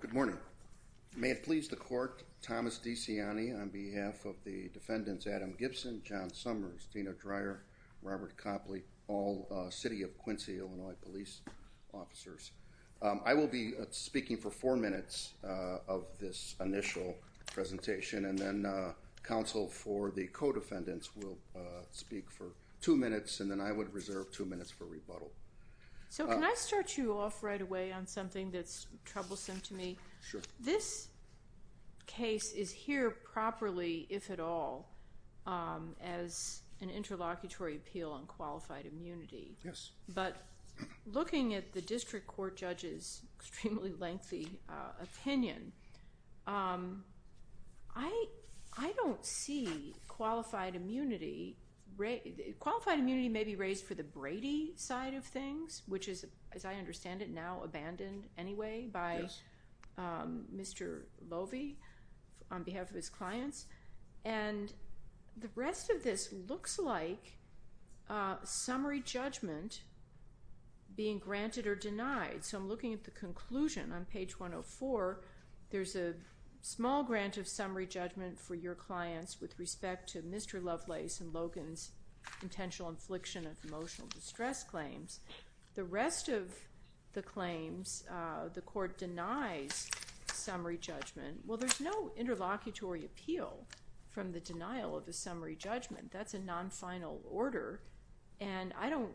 Good morning. May it please the court, Thomas DeCiani on behalf of the defendants Adam Gibson, John Summers, Tina Dreyer, Robert Copley, all City of Quincy, Illinois police officers. I will be speaking for four minutes of this initial presentation and then counsel for the co-defendants will speak for two minutes and then I would reserve two minutes for rebuttal. So can I start you off right away on something that's troublesome to me? This case is here properly, if at all, as an interlocutory appeal on qualified immunity. But looking at the district court judge's extremely lengthy opinion, I don't see qualified immunity. Qualified immunity may be raised for the Brady side of things, which is, as I understand it, now abandoned anyway by Mr. Lovey on behalf of his clients. And the rest of this looks like summary judgment being granted or denied. So I'm looking at the conclusion on page 104. There's a small grant of summary judgment for your clients with respect to Mr. Lovelace and Logan's intentional infliction of emotional distress claims. The rest of the claims, the court denies summary judgment. Well, there's no interlocutory appeal from the denial of the summary judgment. That's a non-final order. And I don't,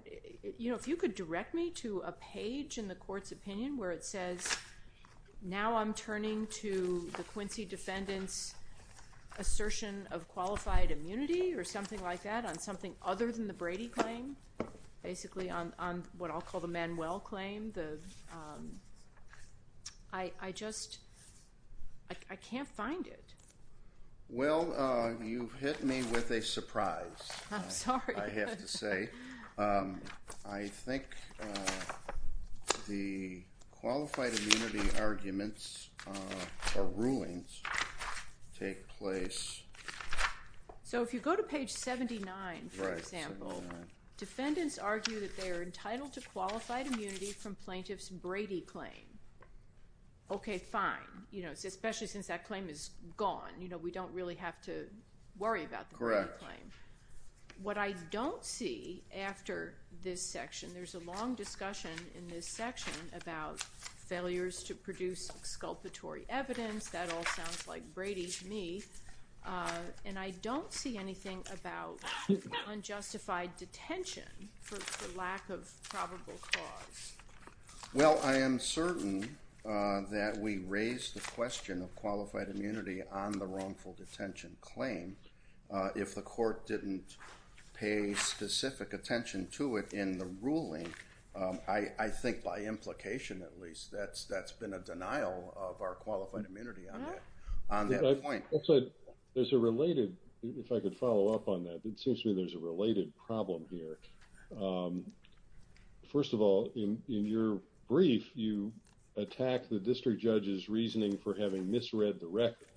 you know, if you could direct me to a page in the court's opinion where it says, now I'm turning to the Quincy defendants assertion of qualified immunity or something like that on something other than the Brady claim. Basically on what I'll call the Manuel claim. I just, I can't find it. Well, you've hit me with a surprise. I'm sorry. I have to say. I think the qualified immunity arguments or rulings take place. So if you go to page 79, for example, defendants argue that they are entitled to qualified immunity from plaintiff's Brady claim. Okay, fine. You know, especially since that claim is gone, you know, we don't really have to worry about the claim. What I don't see after this section, there's a long discussion in this section about failures to produce exculpatory evidence. That all sounds like Brady to me. And I don't see anything about unjustified detention for lack of probable cause. Well, I am certain that we raised the question of qualified immunity on the wrongful detention claim. If the court didn't pay specific attention to it in the ruling, I think by implication, at least, that's been a denial of our qualified immunity on that point. There's a related, if I could follow up on that, it seems to me there's a related problem here. First of all, in your brief, you attack the district judge's reasoning for having misread the record.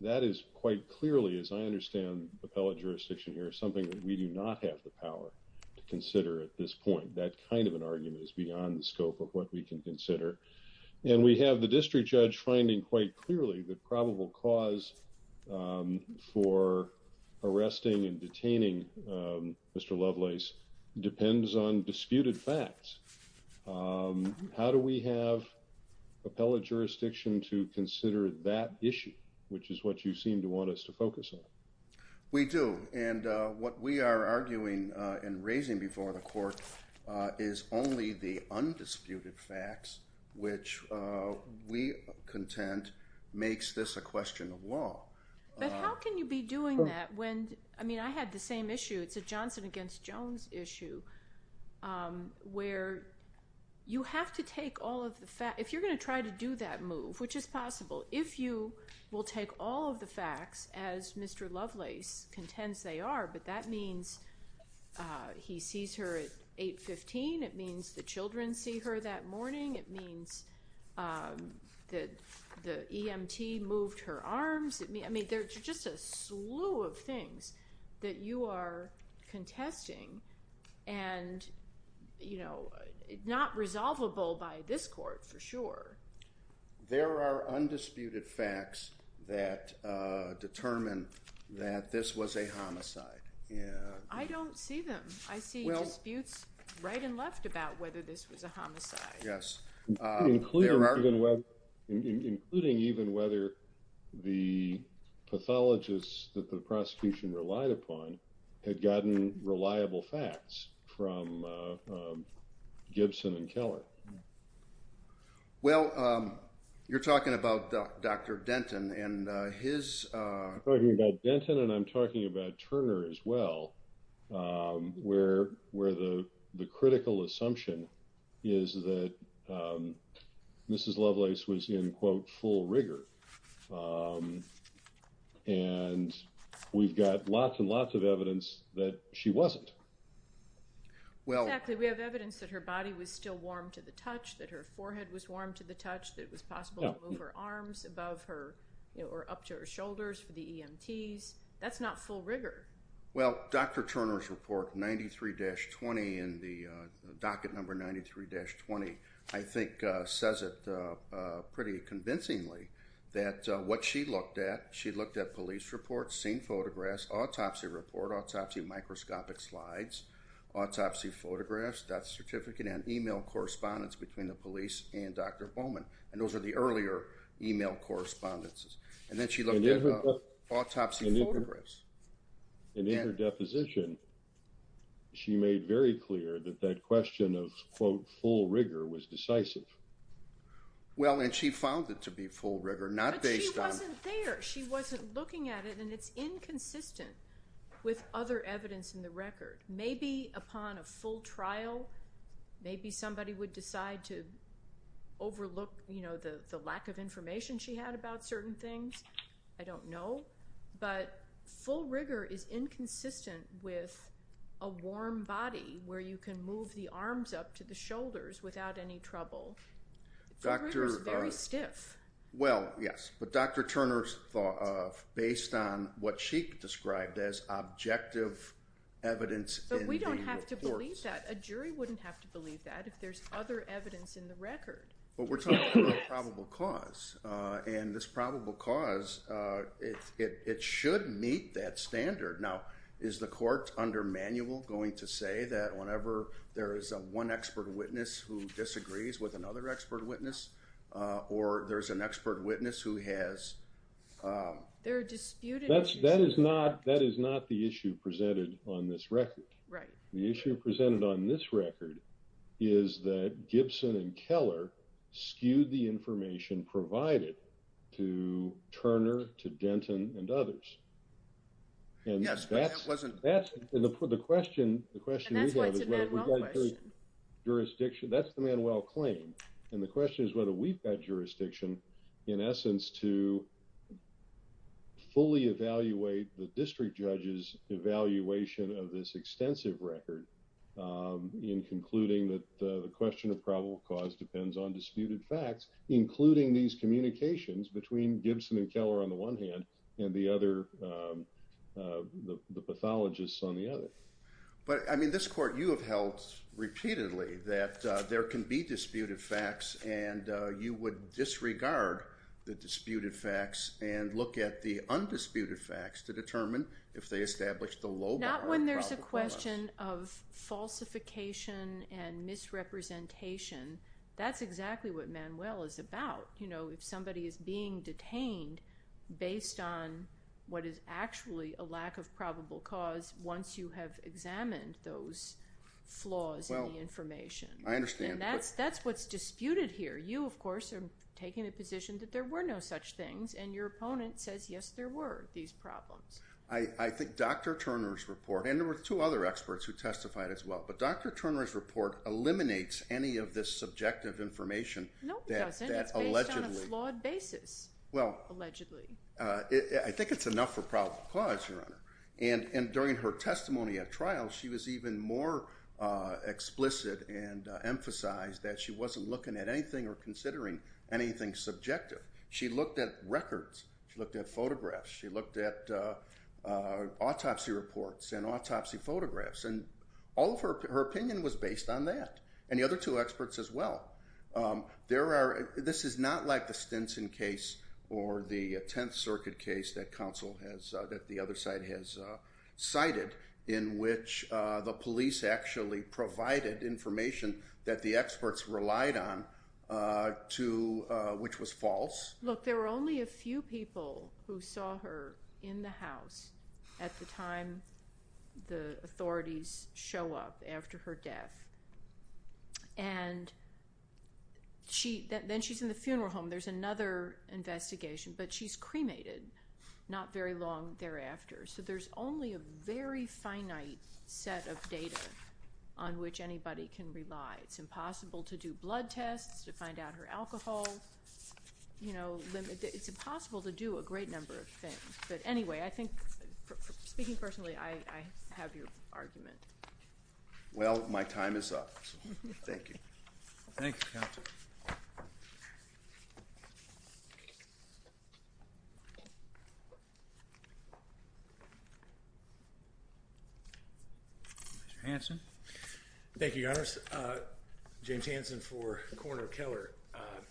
That is quite clearly, as I understand appellate jurisdiction here, something that we do not have the power to consider at this point. That kind of an argument is beyond the scope of what we can consider. And we have the district judge finding quite clearly that probable cause for arresting and detaining Mr. Lovelace depends on disputed facts. How do we have appellate jurisdiction to consider that issue, which is what you seem to want us to focus on? We do. And what we are arguing and raising before the court is only the undisputed facts, which we contend makes this a question of law. But how can you be doing that when, I mean, I had the same issue. It's a Johnson against Jones issue where you have to take all of the facts. If you're going to try to do that move, which is possible, if you will take all of the facts, as Mr. Lovelace contends they are, but that means he sees her at 8.15. It means the children see her that morning. It means that the EMT moved her arms. I mean, there's just a slew of things that you are contesting and, you know, not resolvable by this court for sure. There are undisputed facts that determine that this was a homicide. I don't see them. I see disputes right and left about whether this was a homicide. Including even whether the pathologists that the prosecution relied upon had gotten reliable facts from Gibson and Keller. Well, you're talking about Dr. Denton and his. I'm talking about Denton and I'm talking about Turner as well, where the critical assumption is that Mrs. Lovelace was in, quote, full rigor. And we've got lots and lots of evidence that she wasn't. Exactly. We have evidence that her body was still warm to the touch, that her forehead was warm to the touch, that it was possible to move her arms above her or up to her shoulders for the EMTs. That's not full rigor. Well, Dr. Turner's report 93-20 and the docket number 93-20, I think, says it pretty convincingly that what she looked at, she looked at police reports, seen photographs, autopsy report, autopsy microscopic slides, autopsy photographs, death certificate and email correspondence between the police and Dr. Bowman. And those are the earlier email correspondences. And then she looked at autopsy photographs. And in her deposition, she made very clear that that question of, quote, full rigor was decisive. Well, and she found it to be full rigor, not based on. It wasn't there. She wasn't looking at it, and it's inconsistent with other evidence in the record. Maybe upon a full trial, maybe somebody would decide to overlook, you know, the lack of information she had about certain things. I don't know. But full rigor is inconsistent with a warm body where you can move the arms up to the shoulders without any trouble. Full rigor is very stiff. Well, yes. But Dr. Turner's thought of based on what she described as objective evidence in the report. But we don't have to believe that. A jury wouldn't have to believe that if there's other evidence in the record. But we're talking about probable cause. And this probable cause, it should meet that standard. Now, is the court under manual going to say that whenever there is one expert witness who disagrees with another expert witness or there's an expert witness who has. There are disputed. That is not the issue presented on this record. Right. The issue presented on this record is that Gibson and Keller skewed the information provided to Turner, to Denton, and others. Yes, but it wasn't. And the question we have is. And that's why it's a Manuel question. Jurisdiction. That's the Manuel claim. And the question is whether we've got jurisdiction, in essence, to fully evaluate the district judge's evaluation of this extensive record. In concluding that the question of probable cause depends on disputed facts, including these communications between Gibson and Keller on the one hand and the other. The pathologists on the other. But, I mean, this court you have held repeatedly that there can be disputed facts and you would disregard the disputed facts and look at the undisputed facts to determine if they establish the low bar. Not when there's a question of falsification and misrepresentation. That's exactly what Manuel is about. You know, if somebody is being detained based on what is actually a lack of probable cause once you have examined those flaws in the information. I understand. And that's what's disputed here. You, of course, are taking a position that there were no such things. And your opponent says, yes, there were these problems. I think Dr. Turner's report. And there were two other experts who testified as well. But Dr. Turner's report eliminates any of this subjective information. No, it doesn't. It's based on a flawed basis, allegedly. I think it's enough for probable cause, Your Honor. And during her testimony at trial, she was even more explicit and emphasized that she wasn't looking at anything or considering anything subjective. She looked at records. She looked at photographs. She looked at autopsy reports and autopsy photographs. And all of her opinion was based on that. And the other two experts as well. This is not like the Stinson case or the Tenth Circuit case that the other side has cited in which the police actually provided information that the experts relied on, which was false. Look, there were only a few people who saw her in the house at the time the authorities show up after her death. And then she's in the funeral home. There's another investigation. But she's cremated not very long thereafter. So there's only a very finite set of data on which anybody can rely. It's impossible to do blood tests, to find out her alcohol. It's impossible to do a great number of things. But anyway, I think speaking personally, I have your argument. Well, my time is up. Thank you. Thank you, Counselor. Mr. Hanson. Thank you, Your Honors. James Hanson for Coroner Keller.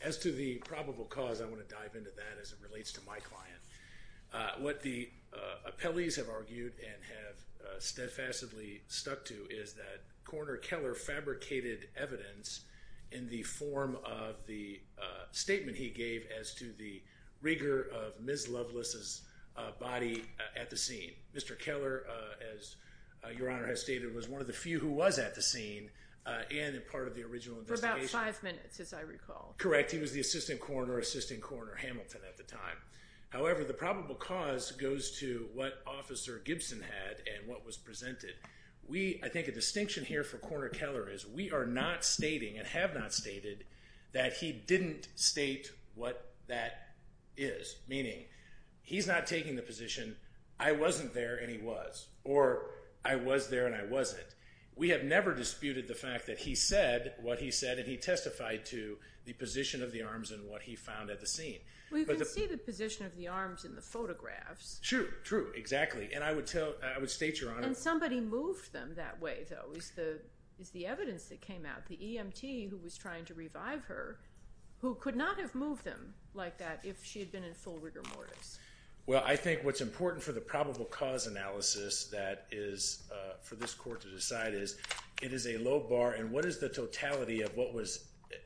As to the probable cause, I want to dive into that as it relates to my client. What the appellees have argued and have steadfastly stuck to is that Coroner Keller fabricated evidence in the form of the statement he gave as to the rigor of Ms. Loveless's body at the scene. Mr. Keller, as Your Honor has stated, was one of the few who was at the scene and a part of the original investigation. For about five minutes, as I recall. Correct. He was the Assistant Coroner, Assistant Coroner Hamilton at the time. However, the probable cause goes to what Officer Gibson had and what was presented. I think a distinction here for Coroner Keller is we are not stating and have not stated that he didn't state what that is. Meaning, he's not taking the position, I wasn't there and he was. Or, I was there and I wasn't. We have never disputed the fact that he said what he said and he testified to the position of the arms and what he found at the scene. Well, you can see the position of the arms in the photographs. True, true. Exactly. And I would state, Your Honor. And somebody moved them that way, though, is the evidence that came out. The EMT who was trying to revive her, who could not have moved them like that if she had been in full rigor mortis. Well, I think what's important for the probable cause analysis that is for this Court to decide is it is a low bar and what is the totality of what was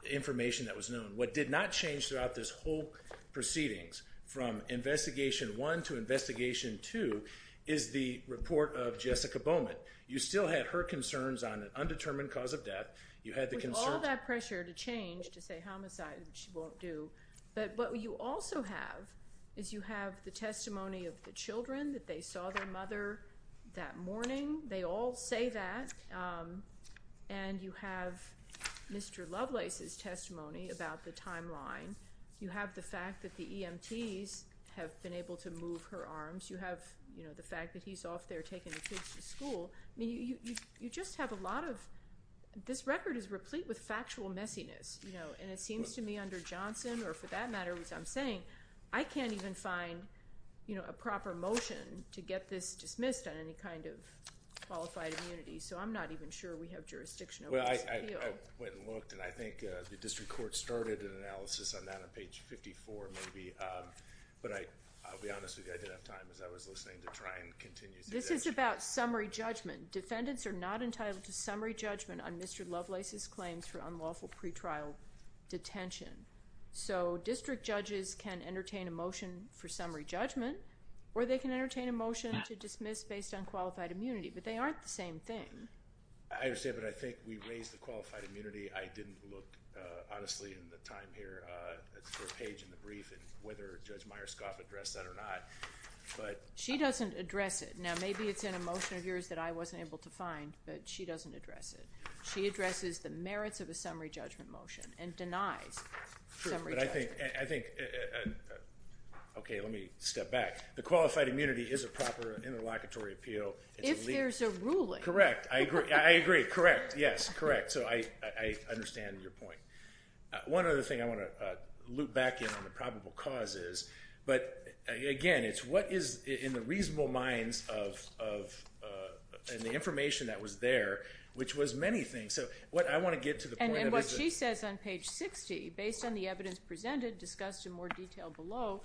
information that was known. What did not change throughout this whole proceedings from investigation one to investigation two is the report of Jessica Bowman. You still had her concerns on an undetermined cause of death. With all that pressure to change to say homicide, which she won't do. But what you also have is you have the testimony of the children that they saw their mother that morning. They all say that. And you have Mr. Lovelace's testimony about the timeline. You have the fact that the EMTs have been able to move her arms. You have, you know, the fact that he's off there taking the kids to school. I mean, you just have a lot of this record is replete with factual messiness, you know. And it seems to me under Johnson or for that matter, as I'm saying, I can't even find, you know, a proper motion to get this dismissed on any kind of qualified immunity. So I'm not even sure we have jurisdiction. Well, I went and looked and I think the district court started an analysis on that on page 54 maybe. But I'll be honest with you. I didn't have time as I was listening to try and continue. This is about summary judgment. Defendants are not entitled to summary judgment on Mr. Lovelace's claims for unlawful pretrial detention. So district judges can entertain a motion for summary judgment or they can entertain a motion to dismiss based on qualified immunity. But they aren't the same thing. I understand, but I think we raised the qualified immunity. I didn't look honestly in the time here for a page in the brief and whether Judge Myerscoff addressed that or not. She doesn't address it. Now, maybe it's in a motion of yours that I wasn't able to find, but she doesn't address it. She addresses the merits of a summary judgment motion and denies summary judgment. Sure, but I think, okay, let me step back. The qualified immunity is a proper interlocutory appeal. If there's a ruling. Correct. I agree. I agree. Correct. Yes, correct. So I understand your point. One other thing I want to loop back in on the probable causes, but, again, it's what is in the reasonable minds of and the information that was there, which was many things. So I want to get to the point of it. And what she says on page 60, based on the evidence presented, discussed in more detail below,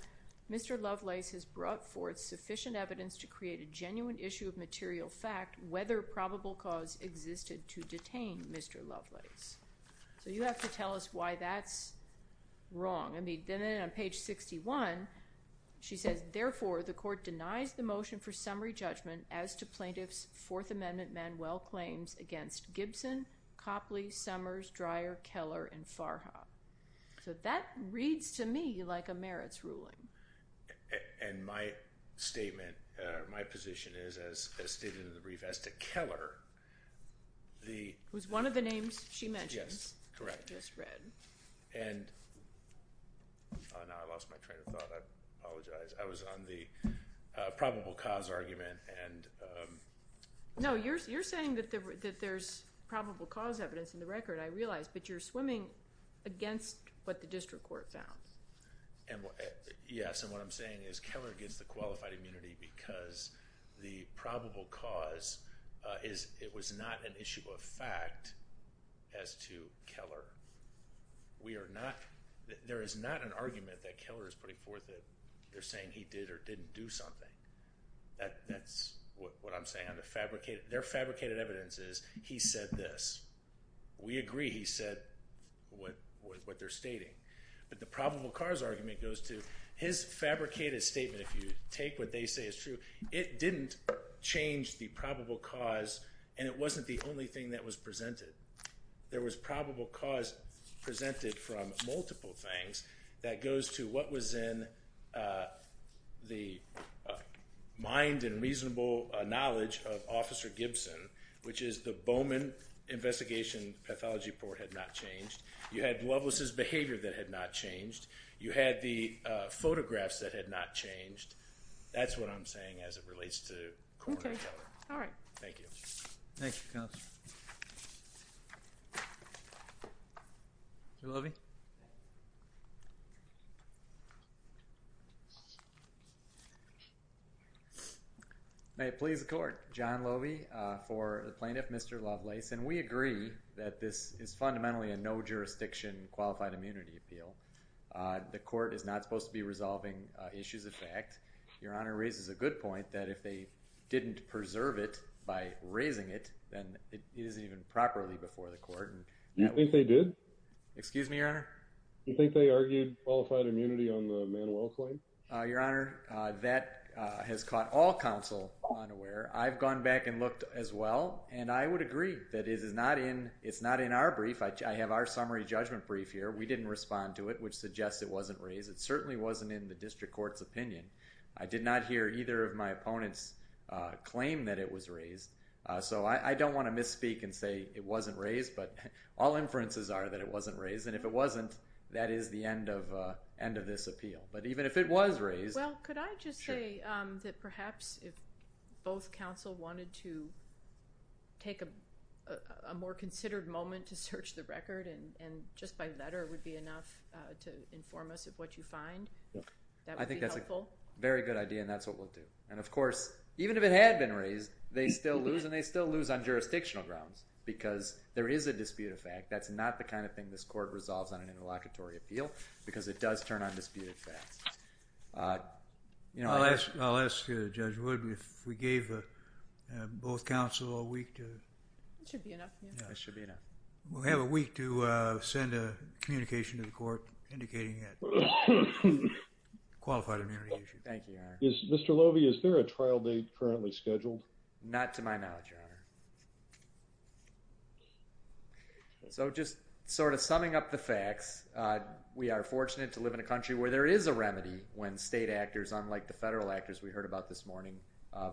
Mr. Lovelace has brought forth sufficient evidence to create a genuine issue of material fact whether probable cause existed to detain Mr. Lovelace. So you have to tell us why that's wrong. I mean, then on page 61, she says, Therefore, the court denies the motion for summary judgment as to plaintiff's Fourth Amendment Manuel claims against Gibson, Copley, Summers, Dreyer, Keller, and Farha. So that reads to me like a merits ruling. And my statement, my position is, as stated in the brief, as to Keller, the ---- It was one of the names she mentioned. Yes, correct. I just read. And now I lost my train of thought. I apologize. I was on the probable cause argument and ---- No, you're saying that there's probable cause evidence in the record, I realize, but you're swimming against what the district court found. Yes, and what I'm saying is Keller gets the qualified immunity because the probable cause is, it was not an issue of fact as to Keller. We are not, there is not an argument that Keller is putting forth that they're saying he did or didn't do something. That's what I'm saying on the fabricated, their fabricated evidence is he said this. We agree he said what they're stating. But the probable cause argument goes to his fabricated statement. If you take what they say is true, it didn't change the probable cause, and it wasn't the only thing that was presented. There was probable cause presented from multiple things that goes to what was in the mind and reasonable knowledge of Officer Gibson, which is the Bowman investigation pathology report had not changed. You had Loveless' behavior that had not changed. You had the photographs that had not changed. That's what I'm saying as it relates to coroner Keller. Okay, all right. Thank you. Thank you, counsel. Thank you. Mr. Loewe? May it please the court, John Loewe for the plaintiff Mr. Loveless, and we agree that this is fundamentally a no jurisdiction qualified immunity appeal. The court is not supposed to be resolving issues of fact. Your Honor raises a good point that if they didn't preserve it by raising it, then it isn't even properly before the court. You think they did? Excuse me, Your Honor? You think they argued qualified immunity on the Manuel claim? Your Honor, that has caught all counsel unaware. I've gone back and looked as well, and I would agree that it's not in our brief. I have our summary judgment brief here. We didn't respond to it, which suggests it wasn't raised. It certainly wasn't in the district court's opinion. I did not hear either of my opponents claim that it was raised. So I don't want to misspeak and say it wasn't raised, but all inferences are that it wasn't raised. And if it wasn't, that is the end of this appeal. But even if it was raised. Well, could I just say that perhaps if both counsel wanted to take a more considered moment to search the record, and just by letter would be enough to inform us of what you find, that would be helpful? I think that's a very good idea, and that's what we'll do. And of course, even if it had been raised, they still lose and they still lose on jurisdictional grounds because there is a disputed fact. That's not the kind of thing this court resolves on an interlocutory appeal because it does turn on disputed facts. I'll ask Judge Wood if we gave both counsel a week to... That should be enough. That should be enough. We'll have a week to send a communication to the court indicating that it's a qualified immunity issue. Thank you, Your Honor. Mr. Lovey, is there a trial date currently scheduled? Not to my knowledge, Your Honor. So just sort of summing up the facts, we are fortunate to live in a country where there is a remedy when state actors, unlike the federal actors we heard about this morning,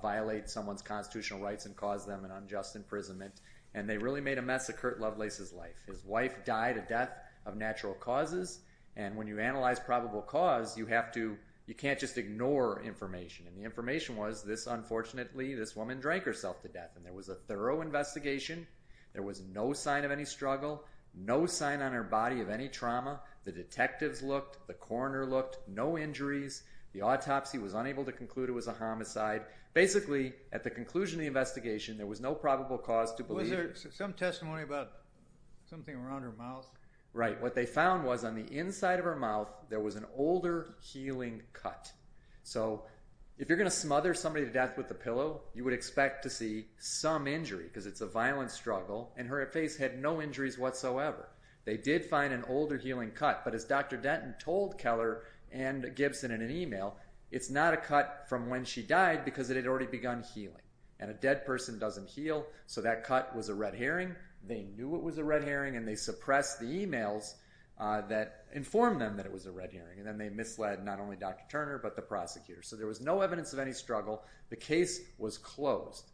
violate someone's constitutional rights and cause them an unjust imprisonment, and they really made a mess of Kurt Lovelace's life. His wife died a death of natural causes, and when you analyze probable cause, you have to... you can't just ignore information. And the information was this, unfortunately, this woman drank herself to death, and there was a thorough investigation. There was no sign of any struggle, no sign on her body of any trauma. The detectives looked. The coroner looked. No injuries. The autopsy was unable to conclude it was a homicide. Basically, at the conclusion of the investigation, there was no probable cause to believe... Was there some testimony about something around her mouth? Right. What they found was on the inside of her mouth, there was an older healing cut. So if you're going to smother somebody to death with a pillow, you would expect to see some injury because it's a violent struggle, and her face had no injuries whatsoever. They did find an older healing cut, but as Dr. Denton told Keller and Gibson in an email, it's not a cut from when she died because it had already begun healing, and a dead person doesn't heal. So that cut was a red herring. They knew it was a red herring, and they suppressed the emails that informed them that it was a red herring, and then they misled not only Dr. Turner, but the prosecutors. So there was no evidence of any struggle. The case was closed.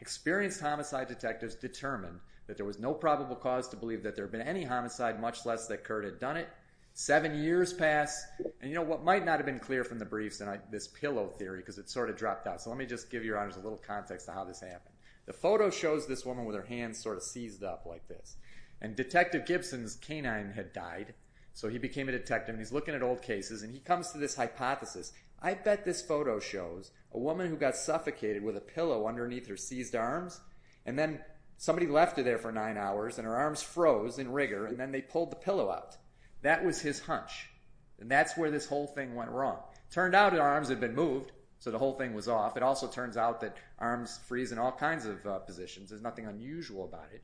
Experienced homicide detectives determined that there was no probable cause to believe that there had been any homicide, much less that Curt had done it. Seven years passed, and you know what might not have been clear from the briefs, this pillow theory, because it sort of dropped out. So let me just give your honors a little context to how this happened. The photo shows this woman with her hands sort of seized up like this, and Detective Gibson's canine had died. So he became a detective, and he's looking at old cases, and he comes to this hypothesis. I bet this photo shows a woman who got suffocated with a pillow underneath her seized arms, and then somebody left her there for nine hours, and her arms froze in rigor, and then they pulled the pillow out. That was his hunch, and that's where this whole thing went wrong. Turned out her arms had been moved, so the whole thing was off. It also turns out that arms freeze in all kinds of positions. There's nothing unusual about it.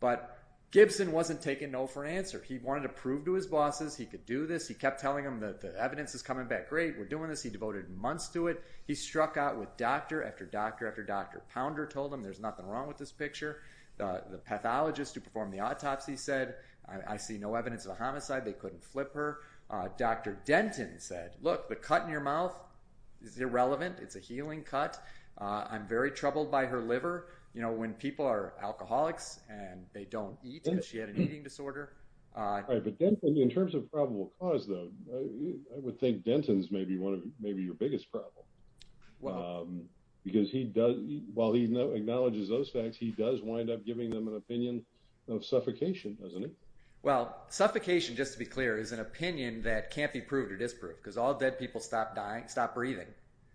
But Gibson wasn't taking no for an answer. He wanted to prove to his bosses he could do this. He kept telling them that the evidence is coming back great. We're doing this. He devoted months to it. He struck out with doctor after doctor after doctor. Pounder told him there's nothing wrong with this picture. The pathologist who performed the autopsy said, I see no evidence of a homicide. They couldn't flip her. Dr. Denton said, look, the cut in your mouth is irrelevant. It's a healing cut. I'm very troubled by her liver. You know, when people are alcoholics and they don't eat, because she had an eating disorder. Right, but Denton, in terms of probable cause, though, I would think Denton's maybe your biggest problem, because while he acknowledges those facts, he does wind up giving them an opinion of suffocation, doesn't he? Well, suffocation, just to be clear, is an opinion that can't be proved or disproved, because all dead people stop dying, stop breathing.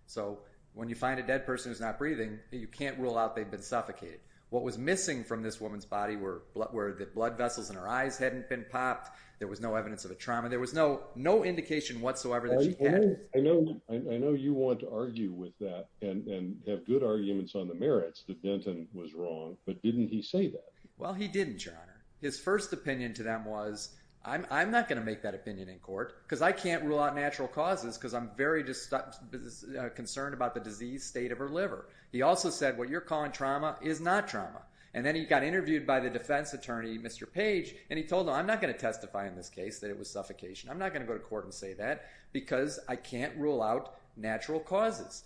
So when you find a dead person who's not breathing, you can't rule out they've been suffocated. What was missing from this woman's body were the blood vessels in her eyes hadn't been popped. There was no evidence of a trauma. There was no indication whatsoever that she had. I know you want to argue with that and have good arguments on the merits that Denton was wrong, but didn't he say that? Well, he didn't, Your Honor. His first opinion to them was, I'm not going to make that opinion in court because I can't rule out natural causes because I'm very concerned about the disease, state of her liver. He also said, what you're calling trauma is not trauma. And then he got interviewed by the defense attorney, Mr. Page, and he told them, I'm not going to testify in this case that it was suffocation. I'm not going to go to court and say that because I can't rule out natural causes.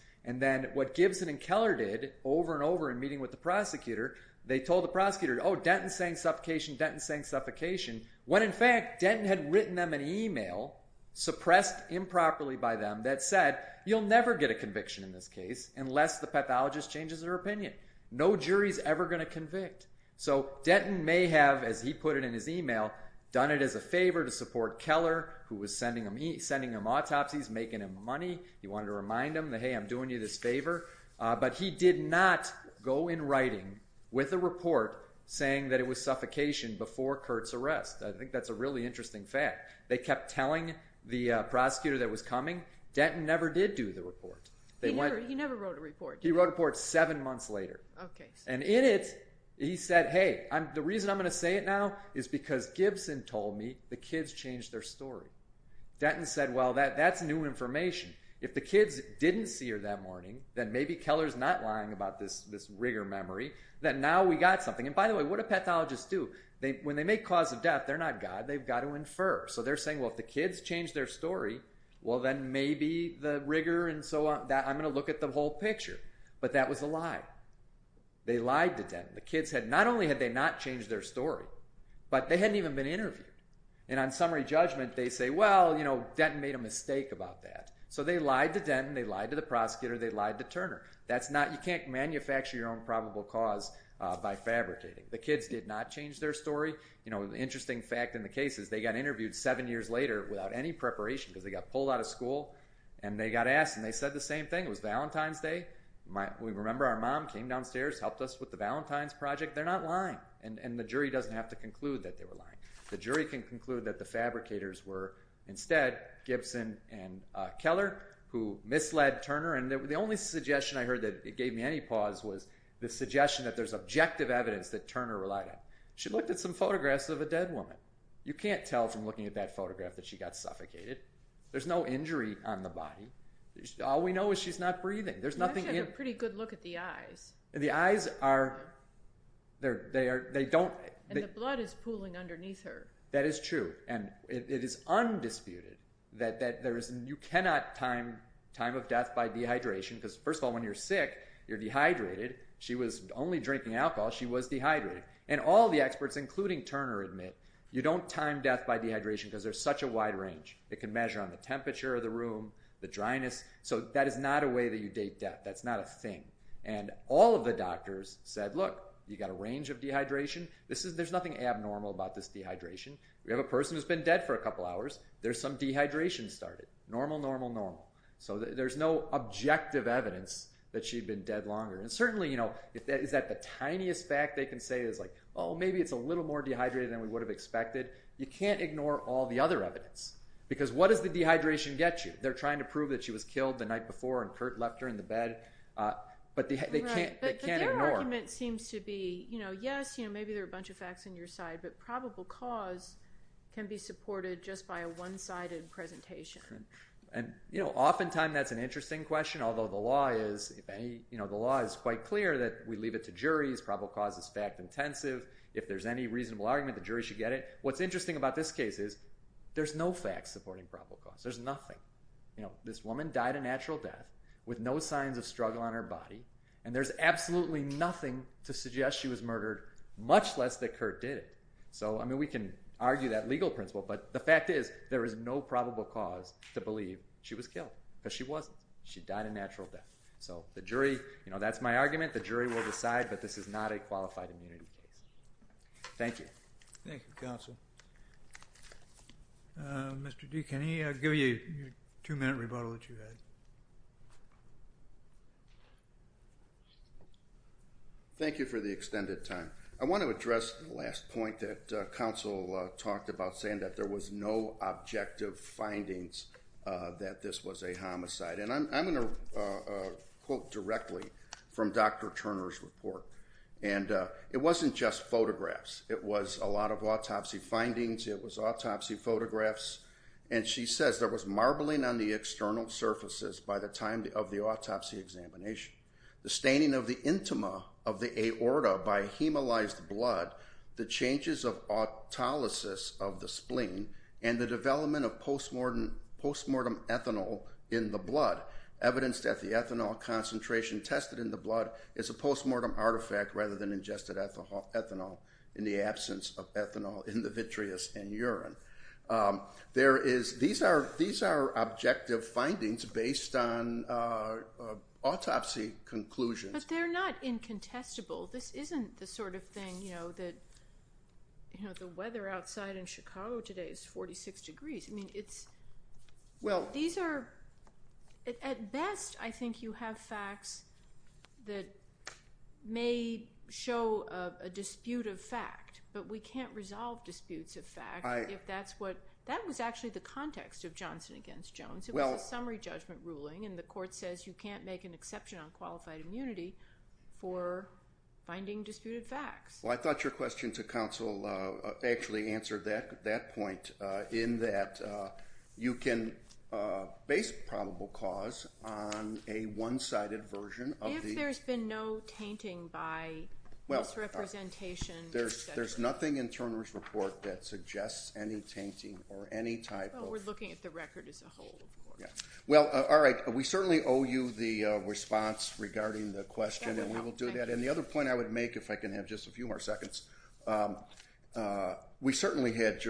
over and over in meeting with the prosecutor, they told the prosecutor, oh, Denton's saying suffocation, Denton's saying suffocation, when in fact Denton had written them an email suppressed improperly by them that said, you'll never get a conviction in this case unless the pathologist changes their opinion. No jury's ever going to convict. So Denton may have, as he put it in his email, done it as a favor to support Keller, who was sending him autopsies, making him money. He wanted to remind him that, hey, I'm doing you this favor. But he did not go in writing with a report saying that it was suffocation before Kurt's arrest. I think that's a really interesting fact. They kept telling the prosecutor that was coming. Denton never did do the report. He never wrote a report. He wrote a report seven months later. And in it, he said, hey, the reason I'm going to say it now is because Gibson told me the kids changed their story. Denton said, well, that's new information. If the kids didn't see her that morning, then maybe Keller's not lying about this rigor memory, that now we got something. And by the way, what do pathologists do? When they make cause of death, they're not God. They've got to infer. So they're saying, well, if the kids changed their story, well, then maybe the rigor and so on, I'm going to look at the whole picture. But that was a lie. They lied to Denton. Not only had they not changed their story, but they hadn't even been interviewed. And on summary judgment, they say, well, Denton made a mistake about that. So they lied to Denton, they lied to the prosecutor, they lied to Turner. You can't manufacture your own probable cause by fabricating. The kids did not change their story. The interesting fact in the case is they got interviewed seven years later without any preparation because they got pulled out of school, and they got asked and they said the same thing. It was Valentine's Day. We remember our mom came downstairs, helped us with the Valentine's project. They're not lying. And the jury doesn't have to conclude that they were lying. The jury can conclude that the fabricators were instead Gibson and Keller, who misled Turner and the only suggestion I heard that gave me any pause was the suggestion that there's objective evidence that Turner relied on. She looked at some photographs of a dead woman. You can't tell from looking at that photograph that she got suffocated. There's no injury on the body. All we know is she's not breathing. She had a pretty good look at the eyes. The eyes are... And the blood is pooling underneath her. That is true, and it is undisputed that you cannot time time of death by dehydration because first of all, when you're sick, you're dehydrated. She was only drinking alcohol. She was dehydrated. And all the experts, including Turner, admit you don't time death by dehydration because there's such a wide range. It can measure on the temperature of the room, the dryness. So that is not a way that you date death. That's not a thing. And all of the doctors said, look, you got a range of dehydration. There's nothing abnormal about this dehydration. We have a person who's been dead for a couple hours. There's some dehydration started. Normal, normal, normal. So there's no objective evidence that she'd been dead longer. And certainly, you know, is that the tiniest fact they can say is like, oh, maybe it's a little more dehydrated than we would have expected. You can't ignore all the other evidence because what does the dehydration get you? They're trying to prove that she was killed the night before and Kurt left her in the bed, but they can't ignore it. But their argument seems to be, yes, maybe there are a bunch of facts on your side, but probable cause can be supported just by a one-sided presentation. And, you know, oftentimes that's an interesting question, although the law is, if any, you know, the law is quite clear that we leave it to juries. Probable cause is fact-intensive. If there's any reasonable argument, the jury should get it. What's interesting about this case is there's no facts supporting probable cause. There's nothing. You know, this woman died a natural death with no signs of struggle on her body, and there's absolutely nothing to suggest she was murdered, much less that Kurt did it. So, I mean, we can argue that legal principle, but the fact is there is no probable cause to believe she was killed, because she wasn't. She died a natural death. So the jury, you know, that's my argument. The jury will decide, but this is not a qualified immunity case. Thank you. Thank you, counsel. Mr. D., can I give you your two-minute rebuttal that you had? Thank you for the extended time. I want to address the last point that counsel talked about, saying that there was no objective findings that this was a homicide. And I'm going to quote directly from Dr. Turner's report. And it wasn't just photographs. It was a lot of autopsy findings. It was autopsy photographs. And she says there was marbling on the external surfaces by the time of the autopsy examination, the staining of the intima of the aorta by hemolyzed blood, the changes of autolysis of the spleen, and the development of postmortem ethanol in the blood, evidence that the ethanol concentration tested in the blood is a postmortem artifact rather than ingested ethanol in the absence of ethanol in the vitreous and urine. These are objective findings based on autopsy conclusions. But they're not incontestable. This isn't the sort of thing that the weather outside in Chicago today is 46 degrees. At best, I think you have facts that may show a dispute of fact, but we can't resolve disputes of fact if that's what... That was actually the context of Johnson v. Jones. It was a summary judgment ruling, and the court says you can't make an exception on qualified immunity for finding disputed facts. Well, I thought your question to counsel actually answered that point in that you can base probable cause on a one-sided version of the... If there's been no tainting by misrepresentation... There's nothing in Turner's report that suggests any tainting or any type of... Well, we're looking at the record as a whole, of course. Well, all right. We certainly owe you the response regarding the question, and we will do that. And the other point I would make, if I can have just a few more seconds, the court certainly had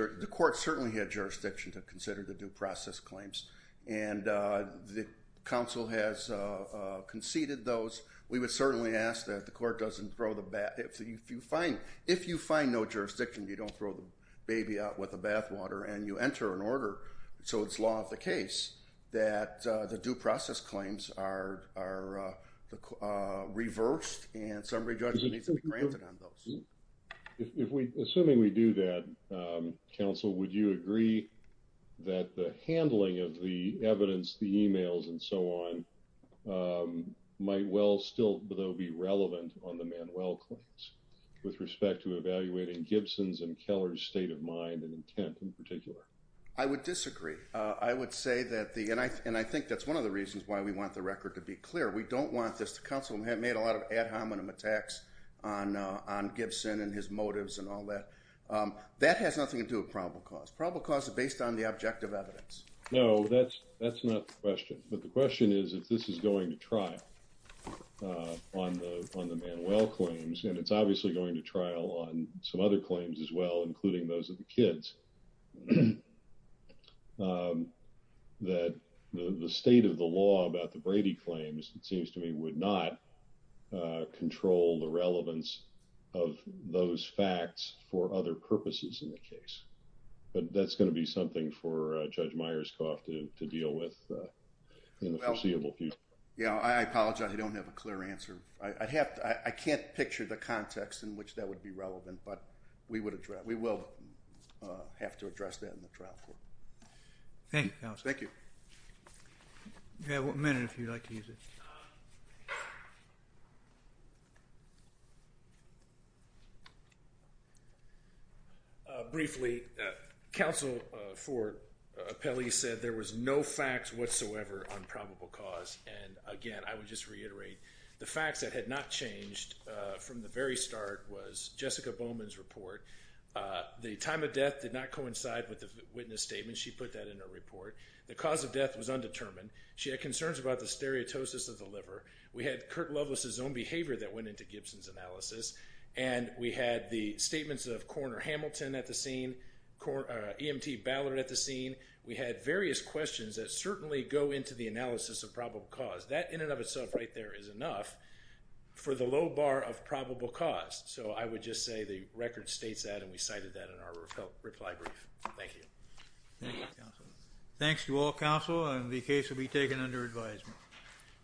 jurisdiction to consider the due process claims, and the counsel has conceded those. We would certainly ask that the court doesn't throw the bat... If you find no jurisdiction, you don't throw the baby out with the bathwater, and you enter an order, so it's law of the case, that the due process claims are reversed, and summary judgment needs to be granted on those. Assuming we do that, counsel, would you agree that the handling of the evidence, the emails, and so on might well still be relevant on the Manuel claims with respect to evaluating Gibson's and Keller's state of mind and intent in particular? I would disagree. I would say that the... And I think that's one of the reasons why we want the record to be clear. We don't want this... The counsel made a lot of ad hominem attacks on Gibson and his motives and all that. That has nothing to do with probable cause. Probable cause is based on the objective evidence. No, that's not the question. But the question is if this is going to trial on the Manuel claims, and it's obviously going to trial on some other claims as well, including those of the kids, that the state of the law about the Brady claims, it seems to me, would not control the relevance of those facts for other purposes in the case. But that's going to be something for Judge Myerscough to deal with in the foreseeable future. Yeah, I apologize. I don't have a clear answer. I'd have to... I can't picture the context in which that would be relevant, but we will have to address that in the trial court. Thank you, counsel. Thank you. You have a minute if you'd like to use it. Briefly, counsel for Pelley said there was no facts whatsoever on probable cause. And again, I would just reiterate, the facts that had not changed from the very start was Jessica Bowman's report. The time of death did not coincide with the witness statement. She put that in her report. The cause of death was undetermined. She had concerns about the stereotosis of the liver. We had Kurt Loveless's own behavior that went into Gibson's analysis. And we had the statements of Coroner Hamilton at the scene, EMT Ballard at the scene. We had various questions that certainly go into the analysis of probable cause. That in and of itself right there is enough for the low bar of probable cause. So I would just say the record states that and we cited that in our reply brief. Thank you. Thank you, counsel. Thanks to all counsel and the case will be taken under advisement.